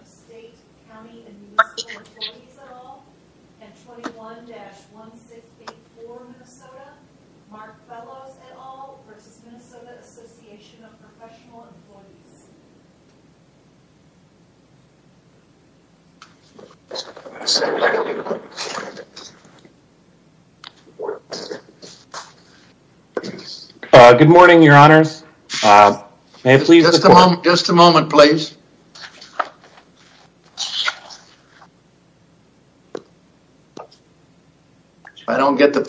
of State, County, and Municipal Employees, et al., and 21-1684, Minnesota, Mark Fellows, et al., v. Minnesota Association of Professional Employees. Good morning, your honors, may I please... Just a moment, please. If I don't get the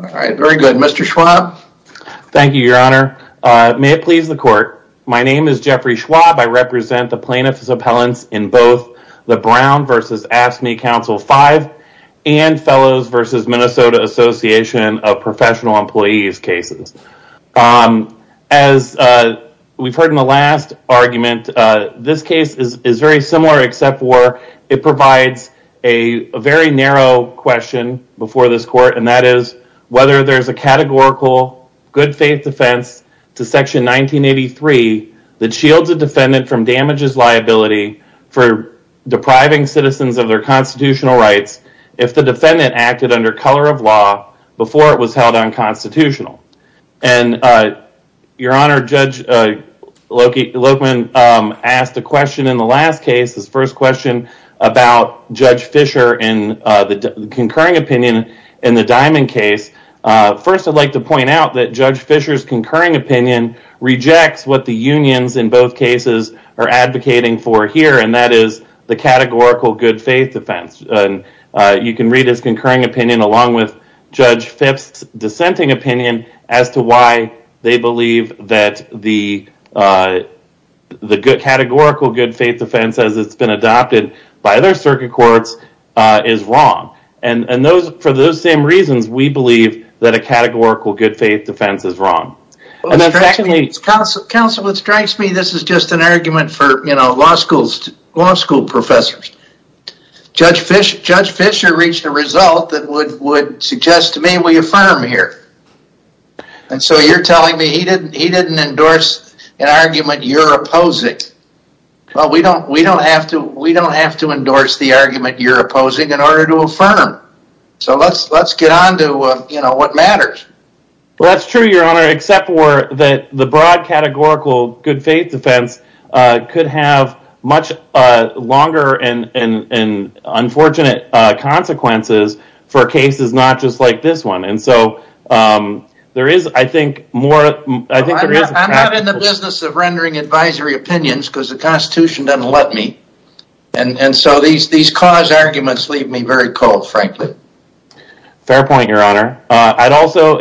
All right, very good. Mr. Schwab. Thank you, your honor. May it please the court, my name is Jeffrey Schwab, I represent the plaintiffs' appellants in both the Brown v. AFSCME Council V and Fellows v. Minnesota Association of Professional Employees cases. As we've heard in the last argument, this case is very similar except for it provides a very narrow question before this court, and that is, whether there's a categorical good faith defense to section 1983 that shields a defendant from damages liability for depriving citizens of their constitutional rights if the defendant acted under color of law before it was held unconstitutional. And, your honor, Judge Lokman asked a question in the last case, his first question about Judge Fischer and the concurring opinion in the Diamond case. First, I'd like to point out that Judge Fischer's concurring opinion rejects what the unions in both cases are advocating for here, and that is the categorical good faith defense. You can read his concurring opinion along with Judge Fischer's dissenting opinion as to why they believe that the categorical good faith defense as it's been adopted by other circuit courts is wrong. And for those same reasons, we believe that a categorical good faith defense is wrong. Counsel, it strikes me that this is just an argument you're opposing. Well, we don't have to endorse the argument you're opposing in order to affirm. So let's get on to what matters. Well, that's true, your honor, except that the broad categorical good faith defense could have much longer and unfortunate consequences for cases not just like this one. I'm not in the business of rendering advisory opinions because the Constitution doesn't let me. And so these cause arguments leave me very cold, frankly. Fair point, your honor. I'd also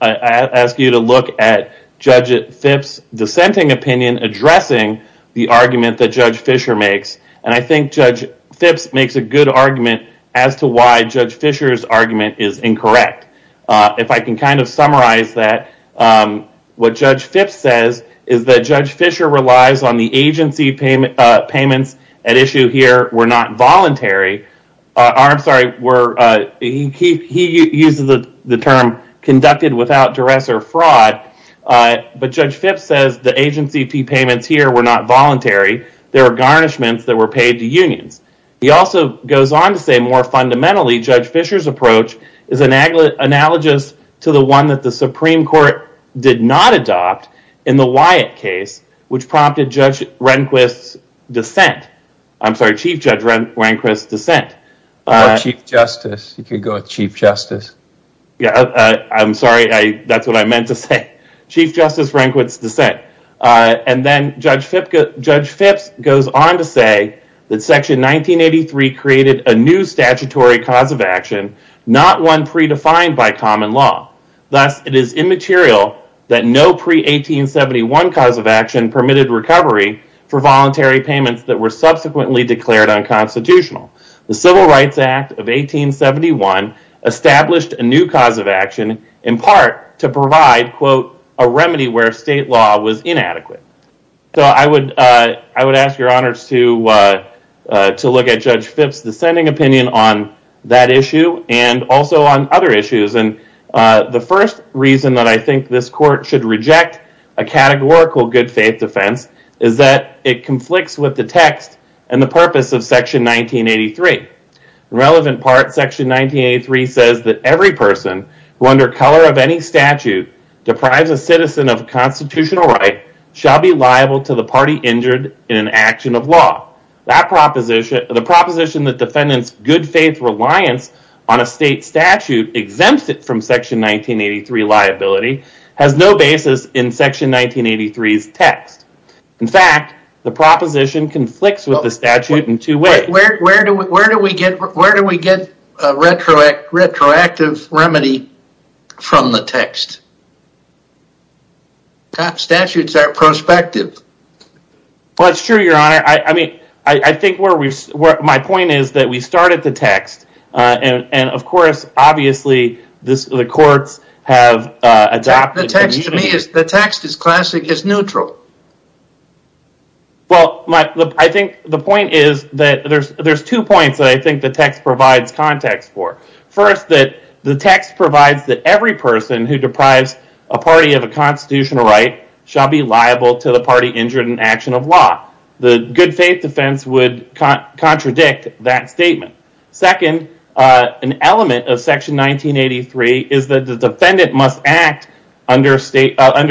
ask you to look at Judge Phipps' dissenting opinion addressing the argument that Judge Fischer makes. And I think Judge Phipps makes a good argument as to why Judge Fischer's argument is incorrect. If I can kind of summarize that, what Judge Phipps says is that Judge Fischer relies on the agency payments at issue here were not voluntary. He uses the term conducted without duress or fraud, but Judge Phipps says the agency payments here were not voluntary. There were garnishments that were paid to unions. He also goes on to say more fundamentally, Judge Fischer's approach is analogous to the one that the Supreme Court did not adopt in the Wyatt case, which prompted Judge Rehnquist's dissent. I'm sorry, Chief Judge Rehnquist's dissent. Or Chief Justice. You could go with Chief Justice. Yeah, I'm sorry. That's what I meant to say. Chief Justice Rehnquist's dissent. And then Judge Phipps goes on to say that Section 1983 created a new statutory cause of action, not one predefined by common law. Thus, it is immaterial that no pre-1871 cause of action permitted recovery for voluntary payments that were subsequently declared unconstitutional. The Civil Rights Act of 1871 established a new cause of action in part to provide, quote, a remedy where state law was inadequate. I would ask your honors to look at Judge Phipps' dissenting opinion on that issue and also on other issues. The first reason that I think this court should reject a categorical good faith defense is that it conflicts with the text and the purpose of Section 1983. The relevant part, Section 1983 says that every person who under color of any statute deprives a citizen of a constitutional right shall be liable to the party injured in an action of law. That proposition, the proposition that defendants good faith reliance on a state statute exempts it from Section 1983 liability has no basis in Section 1983's text. In fact, the proposition conflicts with the statute in two ways. Where do we get a retroactive remedy from the text? Statutes are prospective. Well, it's true, your honor. I think my point is that we started the text and of course, obviously, the courts have adopted... The text, to me, the text is classic, it's neutral. Well, I think the point is that there's two points that I think the text provides context for. First, that the text provides that every person who deprives a party of a constitutional right shall be liable to the party injured in action of law. The good faith defense would contradict that statement. Second, an element of Section 1983 is that the defendant must act under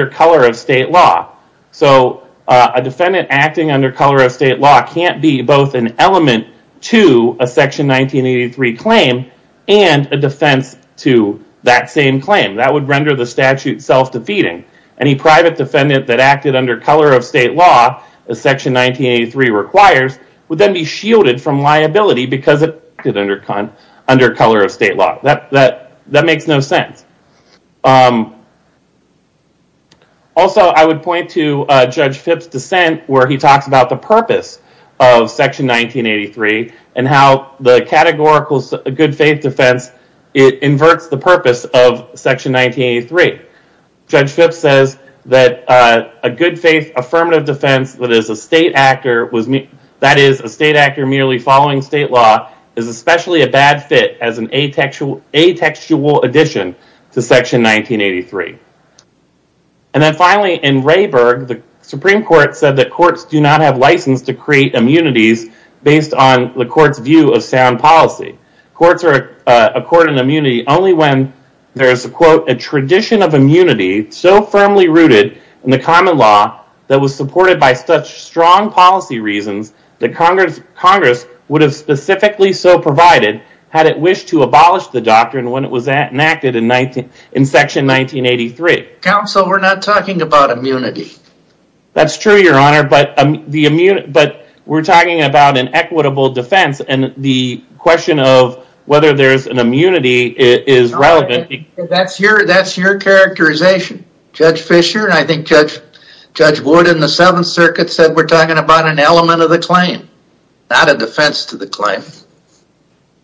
color of state law. So a defendant acting under color of state law can't be both an element to a Section 1983 claim and a defense to that same claim. That would render the statute self-defeating. Any private defendant that acted under color of state law, as Section 1983 requires, would then be shielded from liability because it acted under color of state law. That makes no sense. Also, I would point to Judge Phipps' dissent where he talks about the purpose of Section 1983 and how the categorical good faith defense, it inverts the purpose of Section 1983. Judge Phipps says that a good faith affirmative defense that is a state actor merely following state law is especially a bad fit as an atextual addition to Section 1983. And then finally, in Rayburg, the Supreme Court said that courts do not have license to create immunities based on the court's view of sound policy. Courts are a court in immunity only when there is a quote, a tradition of immunity so firmly rooted in the common law that was supported by strong policy reasons that Congress would have specifically so provided had it wished to abolish the doctrine when it was enacted in Section 1983. Counsel, we're not talking about immunity. That's true, Your Honor, but we're talking about an equitable defense and the question of whether there's an immunity is relevant. That's your characterization. Judge Fischer and I think Judge Ward in the Seventh Circuit said we're talking about an element of the claim, not a defense to the claim.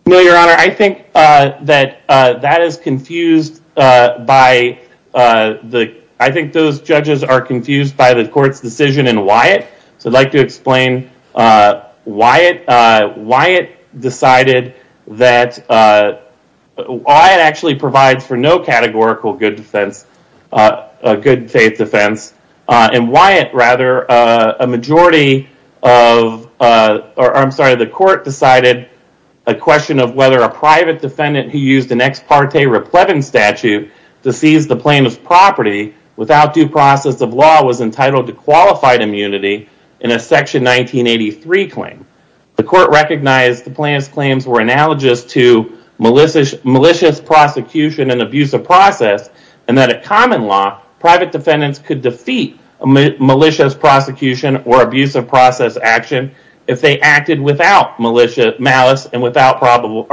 No, Your Honor, I think that that is confused by the, I think those judges are confused by the court's decision in Wyatt. So I'd like to explain why Wyatt decided that, Wyatt actually provides for no categorical good defense, a good faith defense, and Wyatt rather, a majority of, I'm sorry, the court decided a question of whether a private defendant who used an ex parte repletum statute to seize the plaintiff's property without due process of law was entitled to qualified immunity in a Section 1983 claim. The court recognized the plaintiff's claims were analogous to malicious prosecution and abuse of process and that a common law, private defendants could defeat a malicious prosecution or abuse of process action if they acted without malicious malice and with probable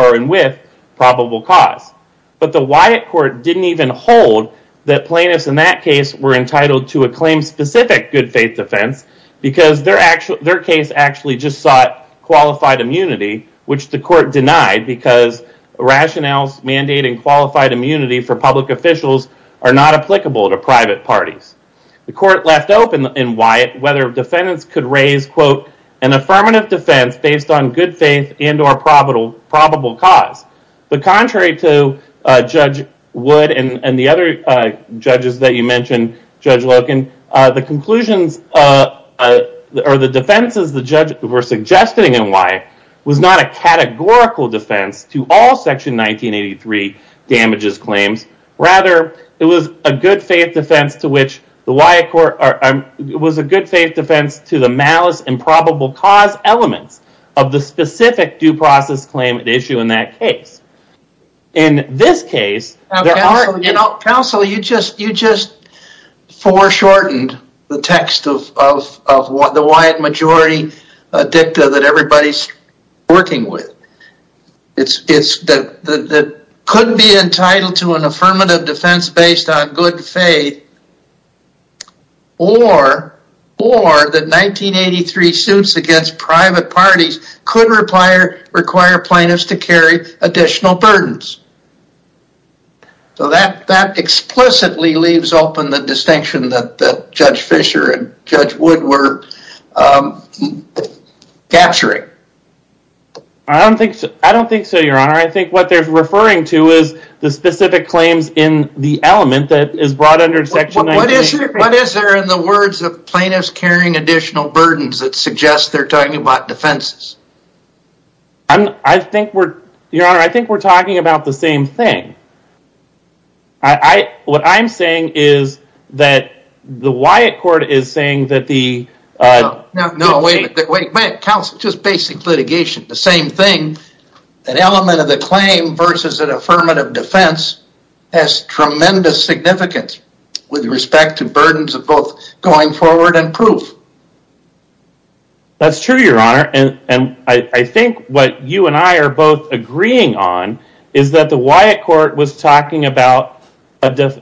cause. But the Wyatt court didn't even hold that plaintiffs in that case were entitled to a claim specific good faith defense because their case actually just sought qualified immunity, which the court denied because rationales mandating qualified immunity for public officials are not applicable to private parties. The court left open in Wyatt whether defendants could raise, quote, an affirmative defense based on good faith and or probable cause. But contrary to Judge Wood and the other judges that you mentioned, Judge Loken, the conclusions or the defenses the judge were suggesting in Wyatt was not a categorical defense to all Section 1983 damages claims. Rather, it was a good faith defense to the malice and probable cause elements of the specific due process claim at issue in that case. In this case, there are... Counsel, you just foreshortened the text of the Wyatt majority dicta that everybody's working with. It's that could be entitled to an affirmative defense based on good faith or that 1983 suits against private parties could require plaintiffs to carry additional burdens. So that explicitly leaves open the distinction that Judge Fisher and Judge Wood were capturing. I don't think so, your honor. I think what they're referring to is the specific claims in the element that is brought under Section 1983. What is there in the words of plaintiffs carrying additional burdens that suggests they're talking about defenses? I think we're, your honor, I think we're talking about the same thing. What I'm saying is that the Wyatt court is saying that the... No, wait. Counsel, just basic litigation. The same thing, an element of the claim versus an affirmative defense has tremendous significance with respect to burdens of both going forward and proof. That's true, your honor. And I think what you and I are both agreeing on is that the Wyatt court was talking about,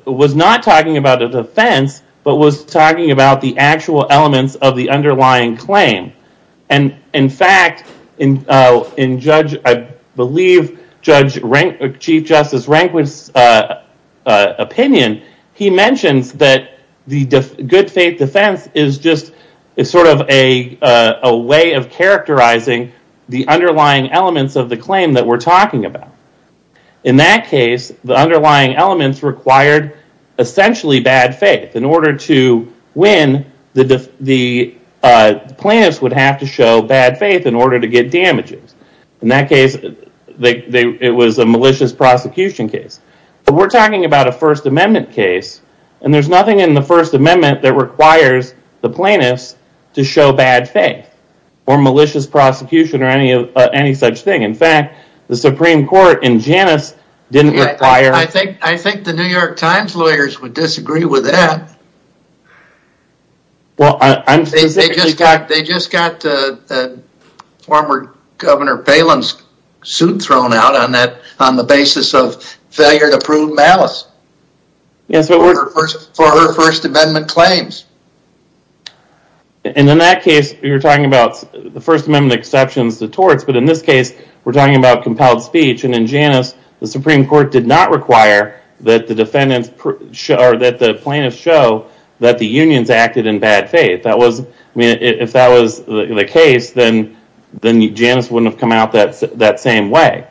was not talking about a defense, but was talking about the actual elements of the defense. I believe Chief Justice Rehnquist's opinion, he mentions that the good faith defense is just a way of characterizing the underlying elements of the claim that we're talking about. In that case, the underlying elements required essentially bad faith. In order to win, the plaintiffs would have to show bad faith in order to get damages. In that case, it was a malicious prosecution case. But we're talking about a First Amendment case, and there's nothing in the First Amendment that requires the plaintiffs to show bad faith or malicious prosecution or any such thing. In fact, the Supreme Court in Janus didn't require... Well, they just got the former Governor Palin's suit thrown out on the basis of failure to prove malice for her First Amendment claims. And in that case, you're talking about the First Amendment exceptions to torts. But in this case, we're talking about compelled speech. And in Janus, the Supreme Court did not require that the plaintiffs show that the unions acted in bad faith. If that was the case, then Janus wouldn't have come out that same way.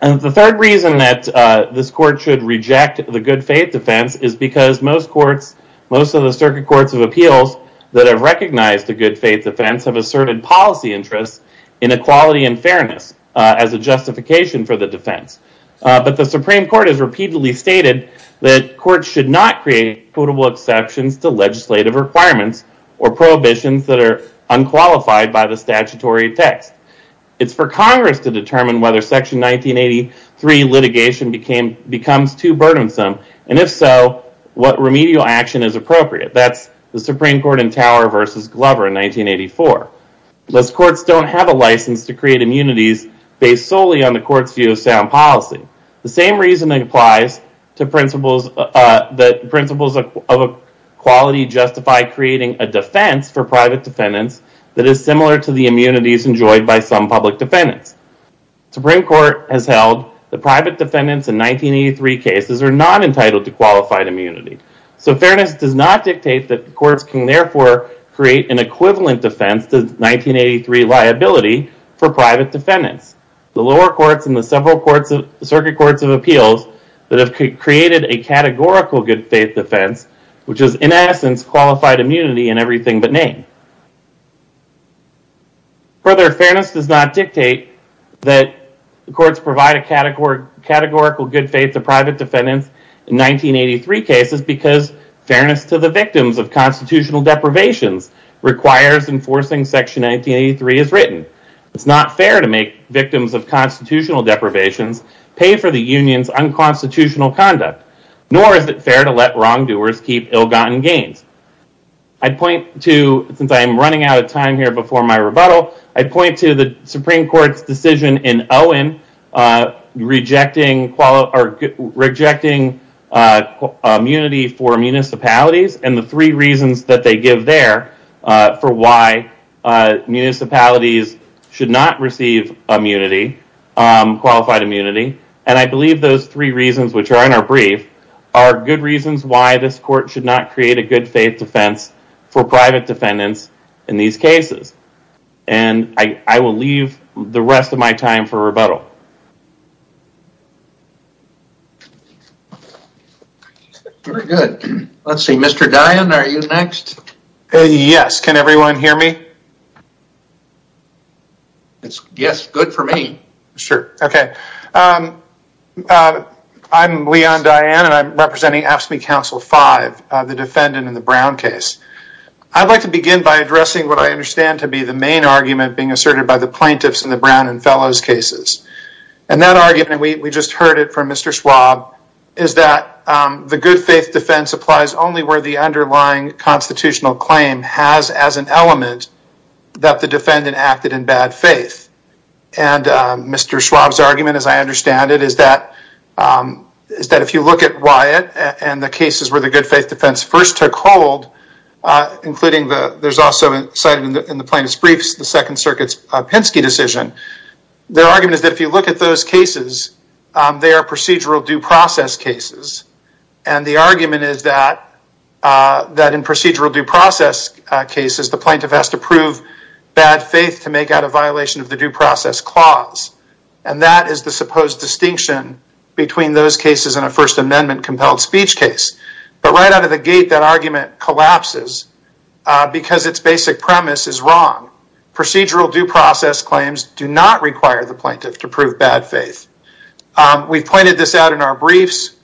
And the third reason that this court should reject the good faith defense is because most of the circuit courts of appeals that have recognized the good faith defense have asserted policy interests in equality and fairness as a justification for the defense. But the Supreme Court has repeatedly stated that courts should not create quotable exceptions to legislative requirements or prohibitions that are unqualified by the statutory text. It's for Congress to determine whether Section 1983 litigation becomes too burdensome, and if so, what remedial action is appropriate. That's the Supreme Court in Tower v. Glover in 1984. Those courts don't have a license to create immunities based solely on the court's view of sound policy. The same reason applies to principles that principles of equality justify creating a defense for private defendants that is similar to the immunities enjoyed by some public defendants. Supreme Court has held that private defendants in 1983 cases are not entitled to qualified immunity. So fairness does not dictate that courts can therefore create an equivalent defense to 1983 liability for private defendants. The lower courts and the several circuit courts of appeals that have created a categorical good faith defense, which is, in essence, qualified immunity in everything but name. Further, fairness does not dictate that courts provide a categorical good faith to private defendants in 1983 cases because fairness to the victims of constitutional deprivations requires enforcing Section 1983 as written. It's not fair to make victims of constitutional deprivations pay for the union's unconstitutional conduct, nor is it fair to let wrongdoers keep ill-gotten gains. Since I'm running out of time before my rebuttal, I point to the Supreme Court's decision in Owen rejecting immunity for municipalities and the three reasons that they give there for why municipalities should not receive qualified immunity. I believe those three reasons, which are in our brief, are good reasons why this court should not create a good faith defense for private defendants in these cases. And I will leave the rest of my time for rebuttal. Very good. Let's see. Mr. Dianne, are you next? Yes. Can everyone hear me? Yes. Good for me. Sure. Okay. I'm Leon Dianne and I'm representing AFSCME Council 5, the defendant in the Brown case. I'd like to begin by addressing what I understand to be the main argument being asserted by the plaintiffs in the Brown and Fellows cases. And that argument, and we just heard it from Mr. Schwab, is that the good faith defense applies only where the underlying constitutional claim has as an element that the defendant acted in bad faith. And Mr. Schwab's argument, as I understand it, is that if you look at Wyatt and the cases where the good faith defense first took hold, including the, there's also cited in the plaintiff's briefs, the Second Circuit's Pinsky decision, their argument is that if you look at those cases, they are procedural due process cases. And the argument is that in procedural due process cases, the plaintiff has to prove bad faith to make out a violation of the due process clause. And that is the supposed distinction between those cases and a First Amendment compelled speech case. But right out of the gate, that argument collapses because its basic premise is wrong. Procedural due process claims do not require the plaintiff to prove bad faith. We've pointed this out in our briefs.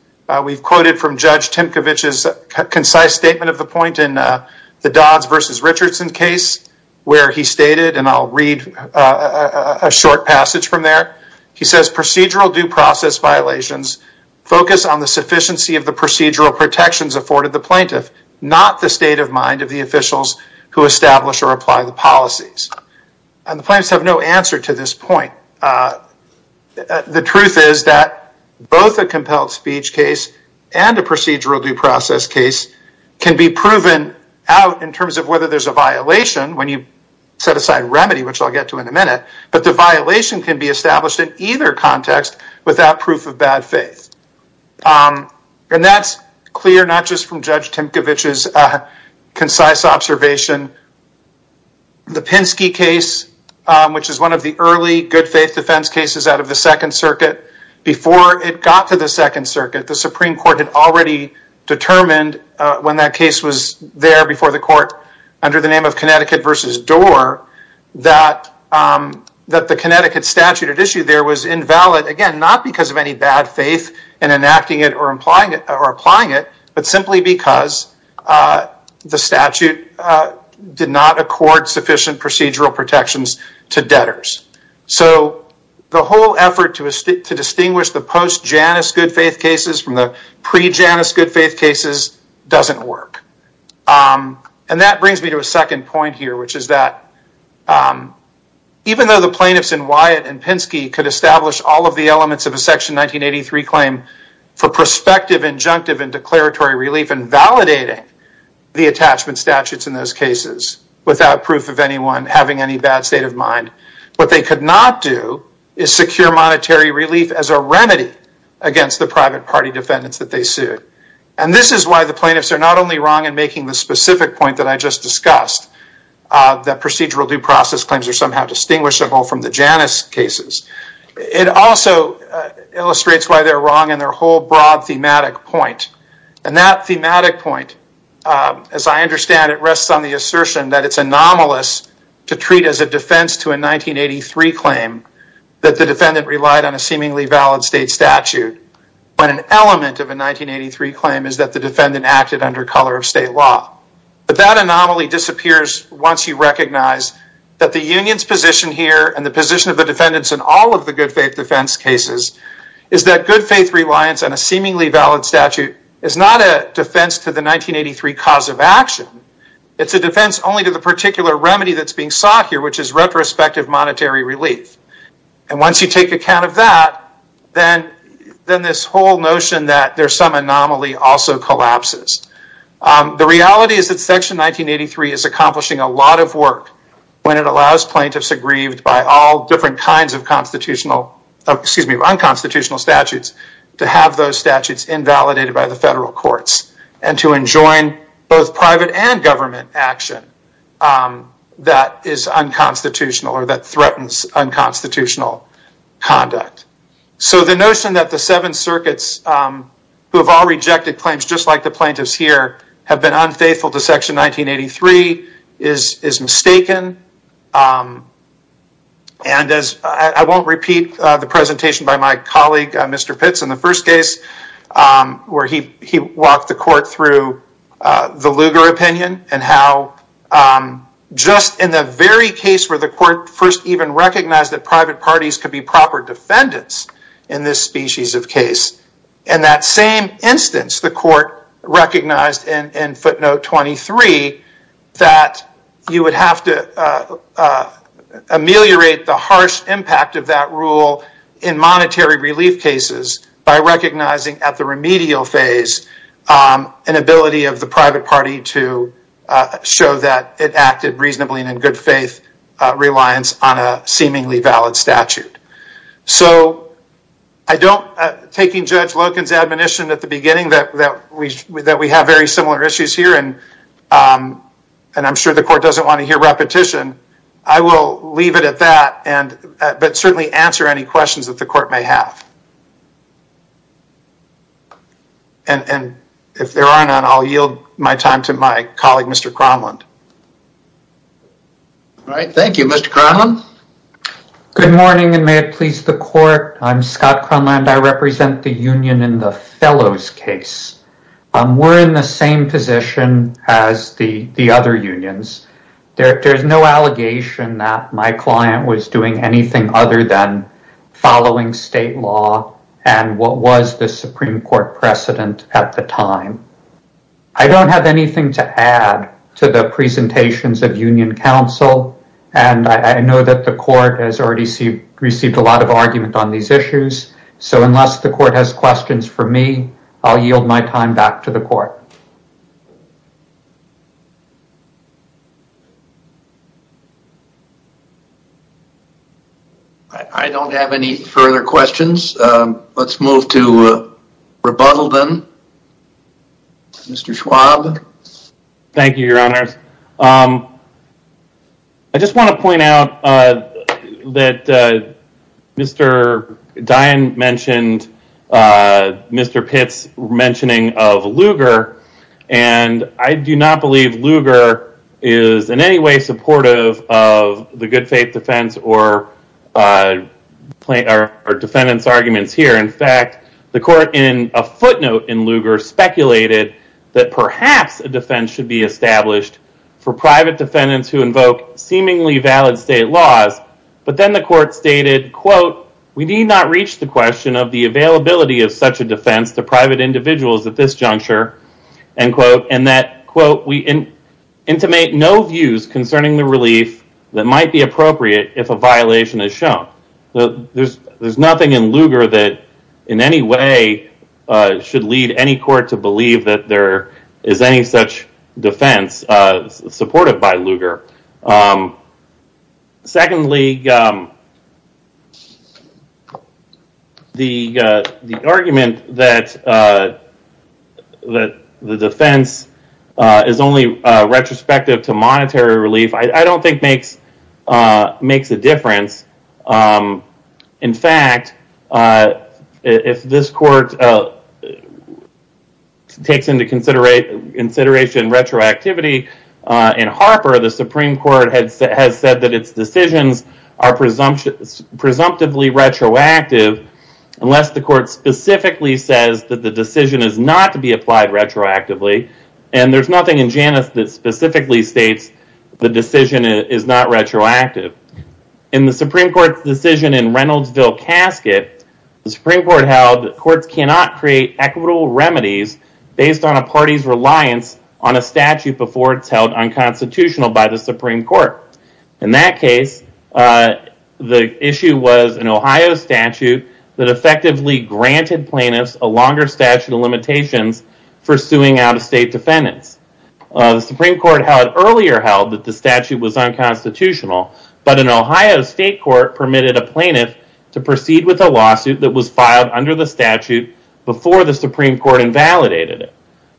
We've quoted from Judge Timkovich's concise statement of the point in the Dodds versus Richardson case, where he stated, and I'll read a short passage from there. He says, procedural due process violations focus on the sufficiency of the procedural protections afforded the plaintiff, not the state of mind of the officials who establish or apply the policies. And the plaintiffs have no answer to this point. The truth is that both a compelled speech case and a procedural due process case can be proven out in terms of whether there's a violation when you set aside remedy, which I'll get to in a minute. But the violation can be established in either context without proof of bad faith. And that's clear, not just from Judge Timkovich's concise observation. The Pinsky case, which is one of the early good faith defense cases out of the Second Circuit, before it got to the Second Circuit, the Supreme Court had already determined when that case was there before the court under the name of Connecticut versus Doar, that the Connecticut statute at issue there was invalid, again, not because of any bad faith in enacting it or applying it, but simply because the statute did not accord sufficient procedural protections to debtors. So the whole effort to distinguish the post-Janus good faith cases from the pre-Janus good faith cases doesn't work. And that brings me to a second point here, which is that even though the plaintiffs in Wyatt and Pinsky could establish all of the elements of a Section 1983 claim for prospective, injunctive, and declaratory relief and validating the attachment statutes in those cases without proof of anyone having any bad state of mind, what they could not do is secure monetary relief as a remedy against the private party defendants that they sued. And this is why the plaintiffs are not only wrong in making the specific point that I just discussed, that procedural due process claims are somehow distinguishable from the Janus cases. It also illustrates why they're wrong in their whole broad thematic point. And that thematic point, as I understand it, rests on the assertion that it's anomalous to treat as a defense to a 1983 claim that the defendant relied on a seemingly valid state statute, when an element of a 1983 claim is that the defendant acted under color of state law. But that anomaly disappears once you recognize that the union's position here and the position of the defendants in all of the good faith defense cases is that good faith reliance on a seemingly valid statute is not a defense to the 1983 cause of action. It's a defense only to the particular remedy that's being sought here, which is retrospective monetary relief. And once you take account of that, then this whole notion that there's some anomaly also collapses. The reality is that Section 1983 is accomplishing a lot of work when it allows plaintiffs aggrieved by all different kinds of unconstitutional statutes to have those statutes invalidated by the federal courts and to enjoin both private and government action that is unconstitutional or that threatens unconstitutional conduct. So the notion that the seven circuits who have all rejected claims just like the plaintiffs here have been unfaithful to Section 1983 is mistaken. And I won't repeat the presentation by my colleague, Mr. Pitts, in the first case where he walked the court through the Lugar opinion and how just in the very case where the court first even recognized that private parties could be proper in footnote 23 that you would have to ameliorate the harsh impact of that rule in monetary relief cases by recognizing at the remedial phase an ability of the private party to show that it acted reasonably and in good faith reliance on a seemingly valid statute. So I don't, taking Judge Loken's admonition at the beginning that we that we have very similar issues here and I'm sure the court doesn't want to hear repetition, I will leave it at that and but certainly answer any questions that the court may have. And if there are none, I'll yield my time to my colleague, Mr. Cromlund. All right. Thank you, Mr. Cromlund. Good morning and may it please the court. I'm Scott Cromlund. I represent the union in the Fellows case. We're in the same position as the other unions. There's no allegation that my client was doing anything other than following state law and what was the Supreme Court precedent at the presentations of union counsel and I know that the court has already received a lot of argument on these issues. So unless the court has questions for me, I'll yield my time back to the court. I don't have any further questions. Let's move to rebuttal then. Mr. Schwab. Thank you, your honors. I just want to point out that Mr. Dine mentioned Mr. Pitts mentioning of Lugar and I do not believe Lugar is in any way supportive of the good faith defense or the court in a footnote in Lugar speculated that perhaps a defense should be established for private defendants who invoke seemingly valid state laws but then the court stated, quote, we need not reach the question of the availability of such a defense to private individuals at this juncture, end quote, and that, quote, we intimate no views concerning the relief that might be appropriate if a violation is shown. There's nothing in Lugar that any way should lead any court to believe that there is any such defense supported by Lugar. Secondly, the argument that the defense is only retrospective to monetary relief, I don't think that makes a difference. In fact, if this court takes into consideration retroactivity in Harper, the Supreme Court has said that its decisions are presumptively retroactive unless the court specifically says that the decision is not to be applied retroactively and there's nothing in Janus that specifically states the decision is not retroactive. In the Supreme Court's decision in Reynoldsville casket, the Supreme Court held that courts cannot create equitable remedies based on a party's reliance on a statute before it's held unconstitutional by the Supreme Court. In that case, the issue was an Ohio statute that effectively granted plaintiffs a longer statute of limitations for suing out-of-state defendants. The Supreme Court had earlier held that the statute was unconstitutional, but an Ohio state court permitted a plaintiff to proceed with a lawsuit that was filed under the statute before the Supreme Court invalidated it.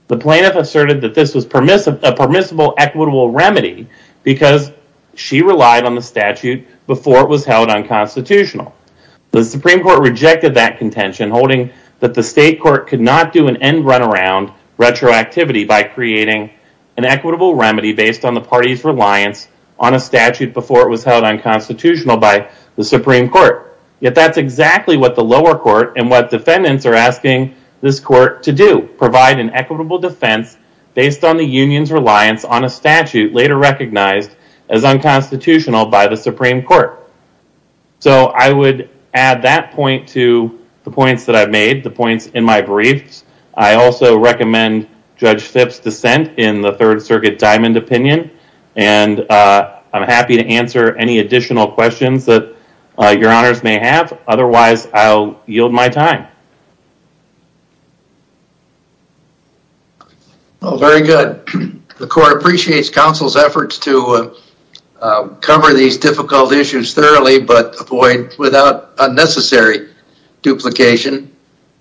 The plaintiff asserted that this was a permissible, equitable remedy because she relied on the statute before it was held unconstitutional. The Supreme Court rejected that contention, holding that the state court could not do an end-runaround retroactivity by creating an equitable remedy based on the party's reliance on a statute before it was held unconstitutional by the Supreme Court. Yet, that's exactly what the lower court and what defendants are asking this court to do, provide an equitable defense based on the union's reliance on a statute later recognized as unconstitutional by the Supreme Court. So, I would add that point to the points that I've made, the points in my briefs. I also recommend Judge Fipp's dissent in the Third Circuit Diamond Opinion, and I'm happy to answer any additional questions that your honors may have. Otherwise, I'll yield my time. Well, very good. The court appreciates counsel's efforts to cover these difficult issues thoroughly, but avoid without unnecessary duplication,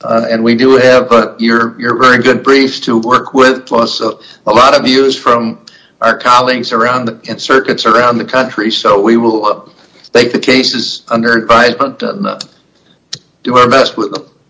and we do have your very good briefs to work with, plus a lot of views from our colleagues in circuits around the country. So, we will take the cases under advisement and do our best with them.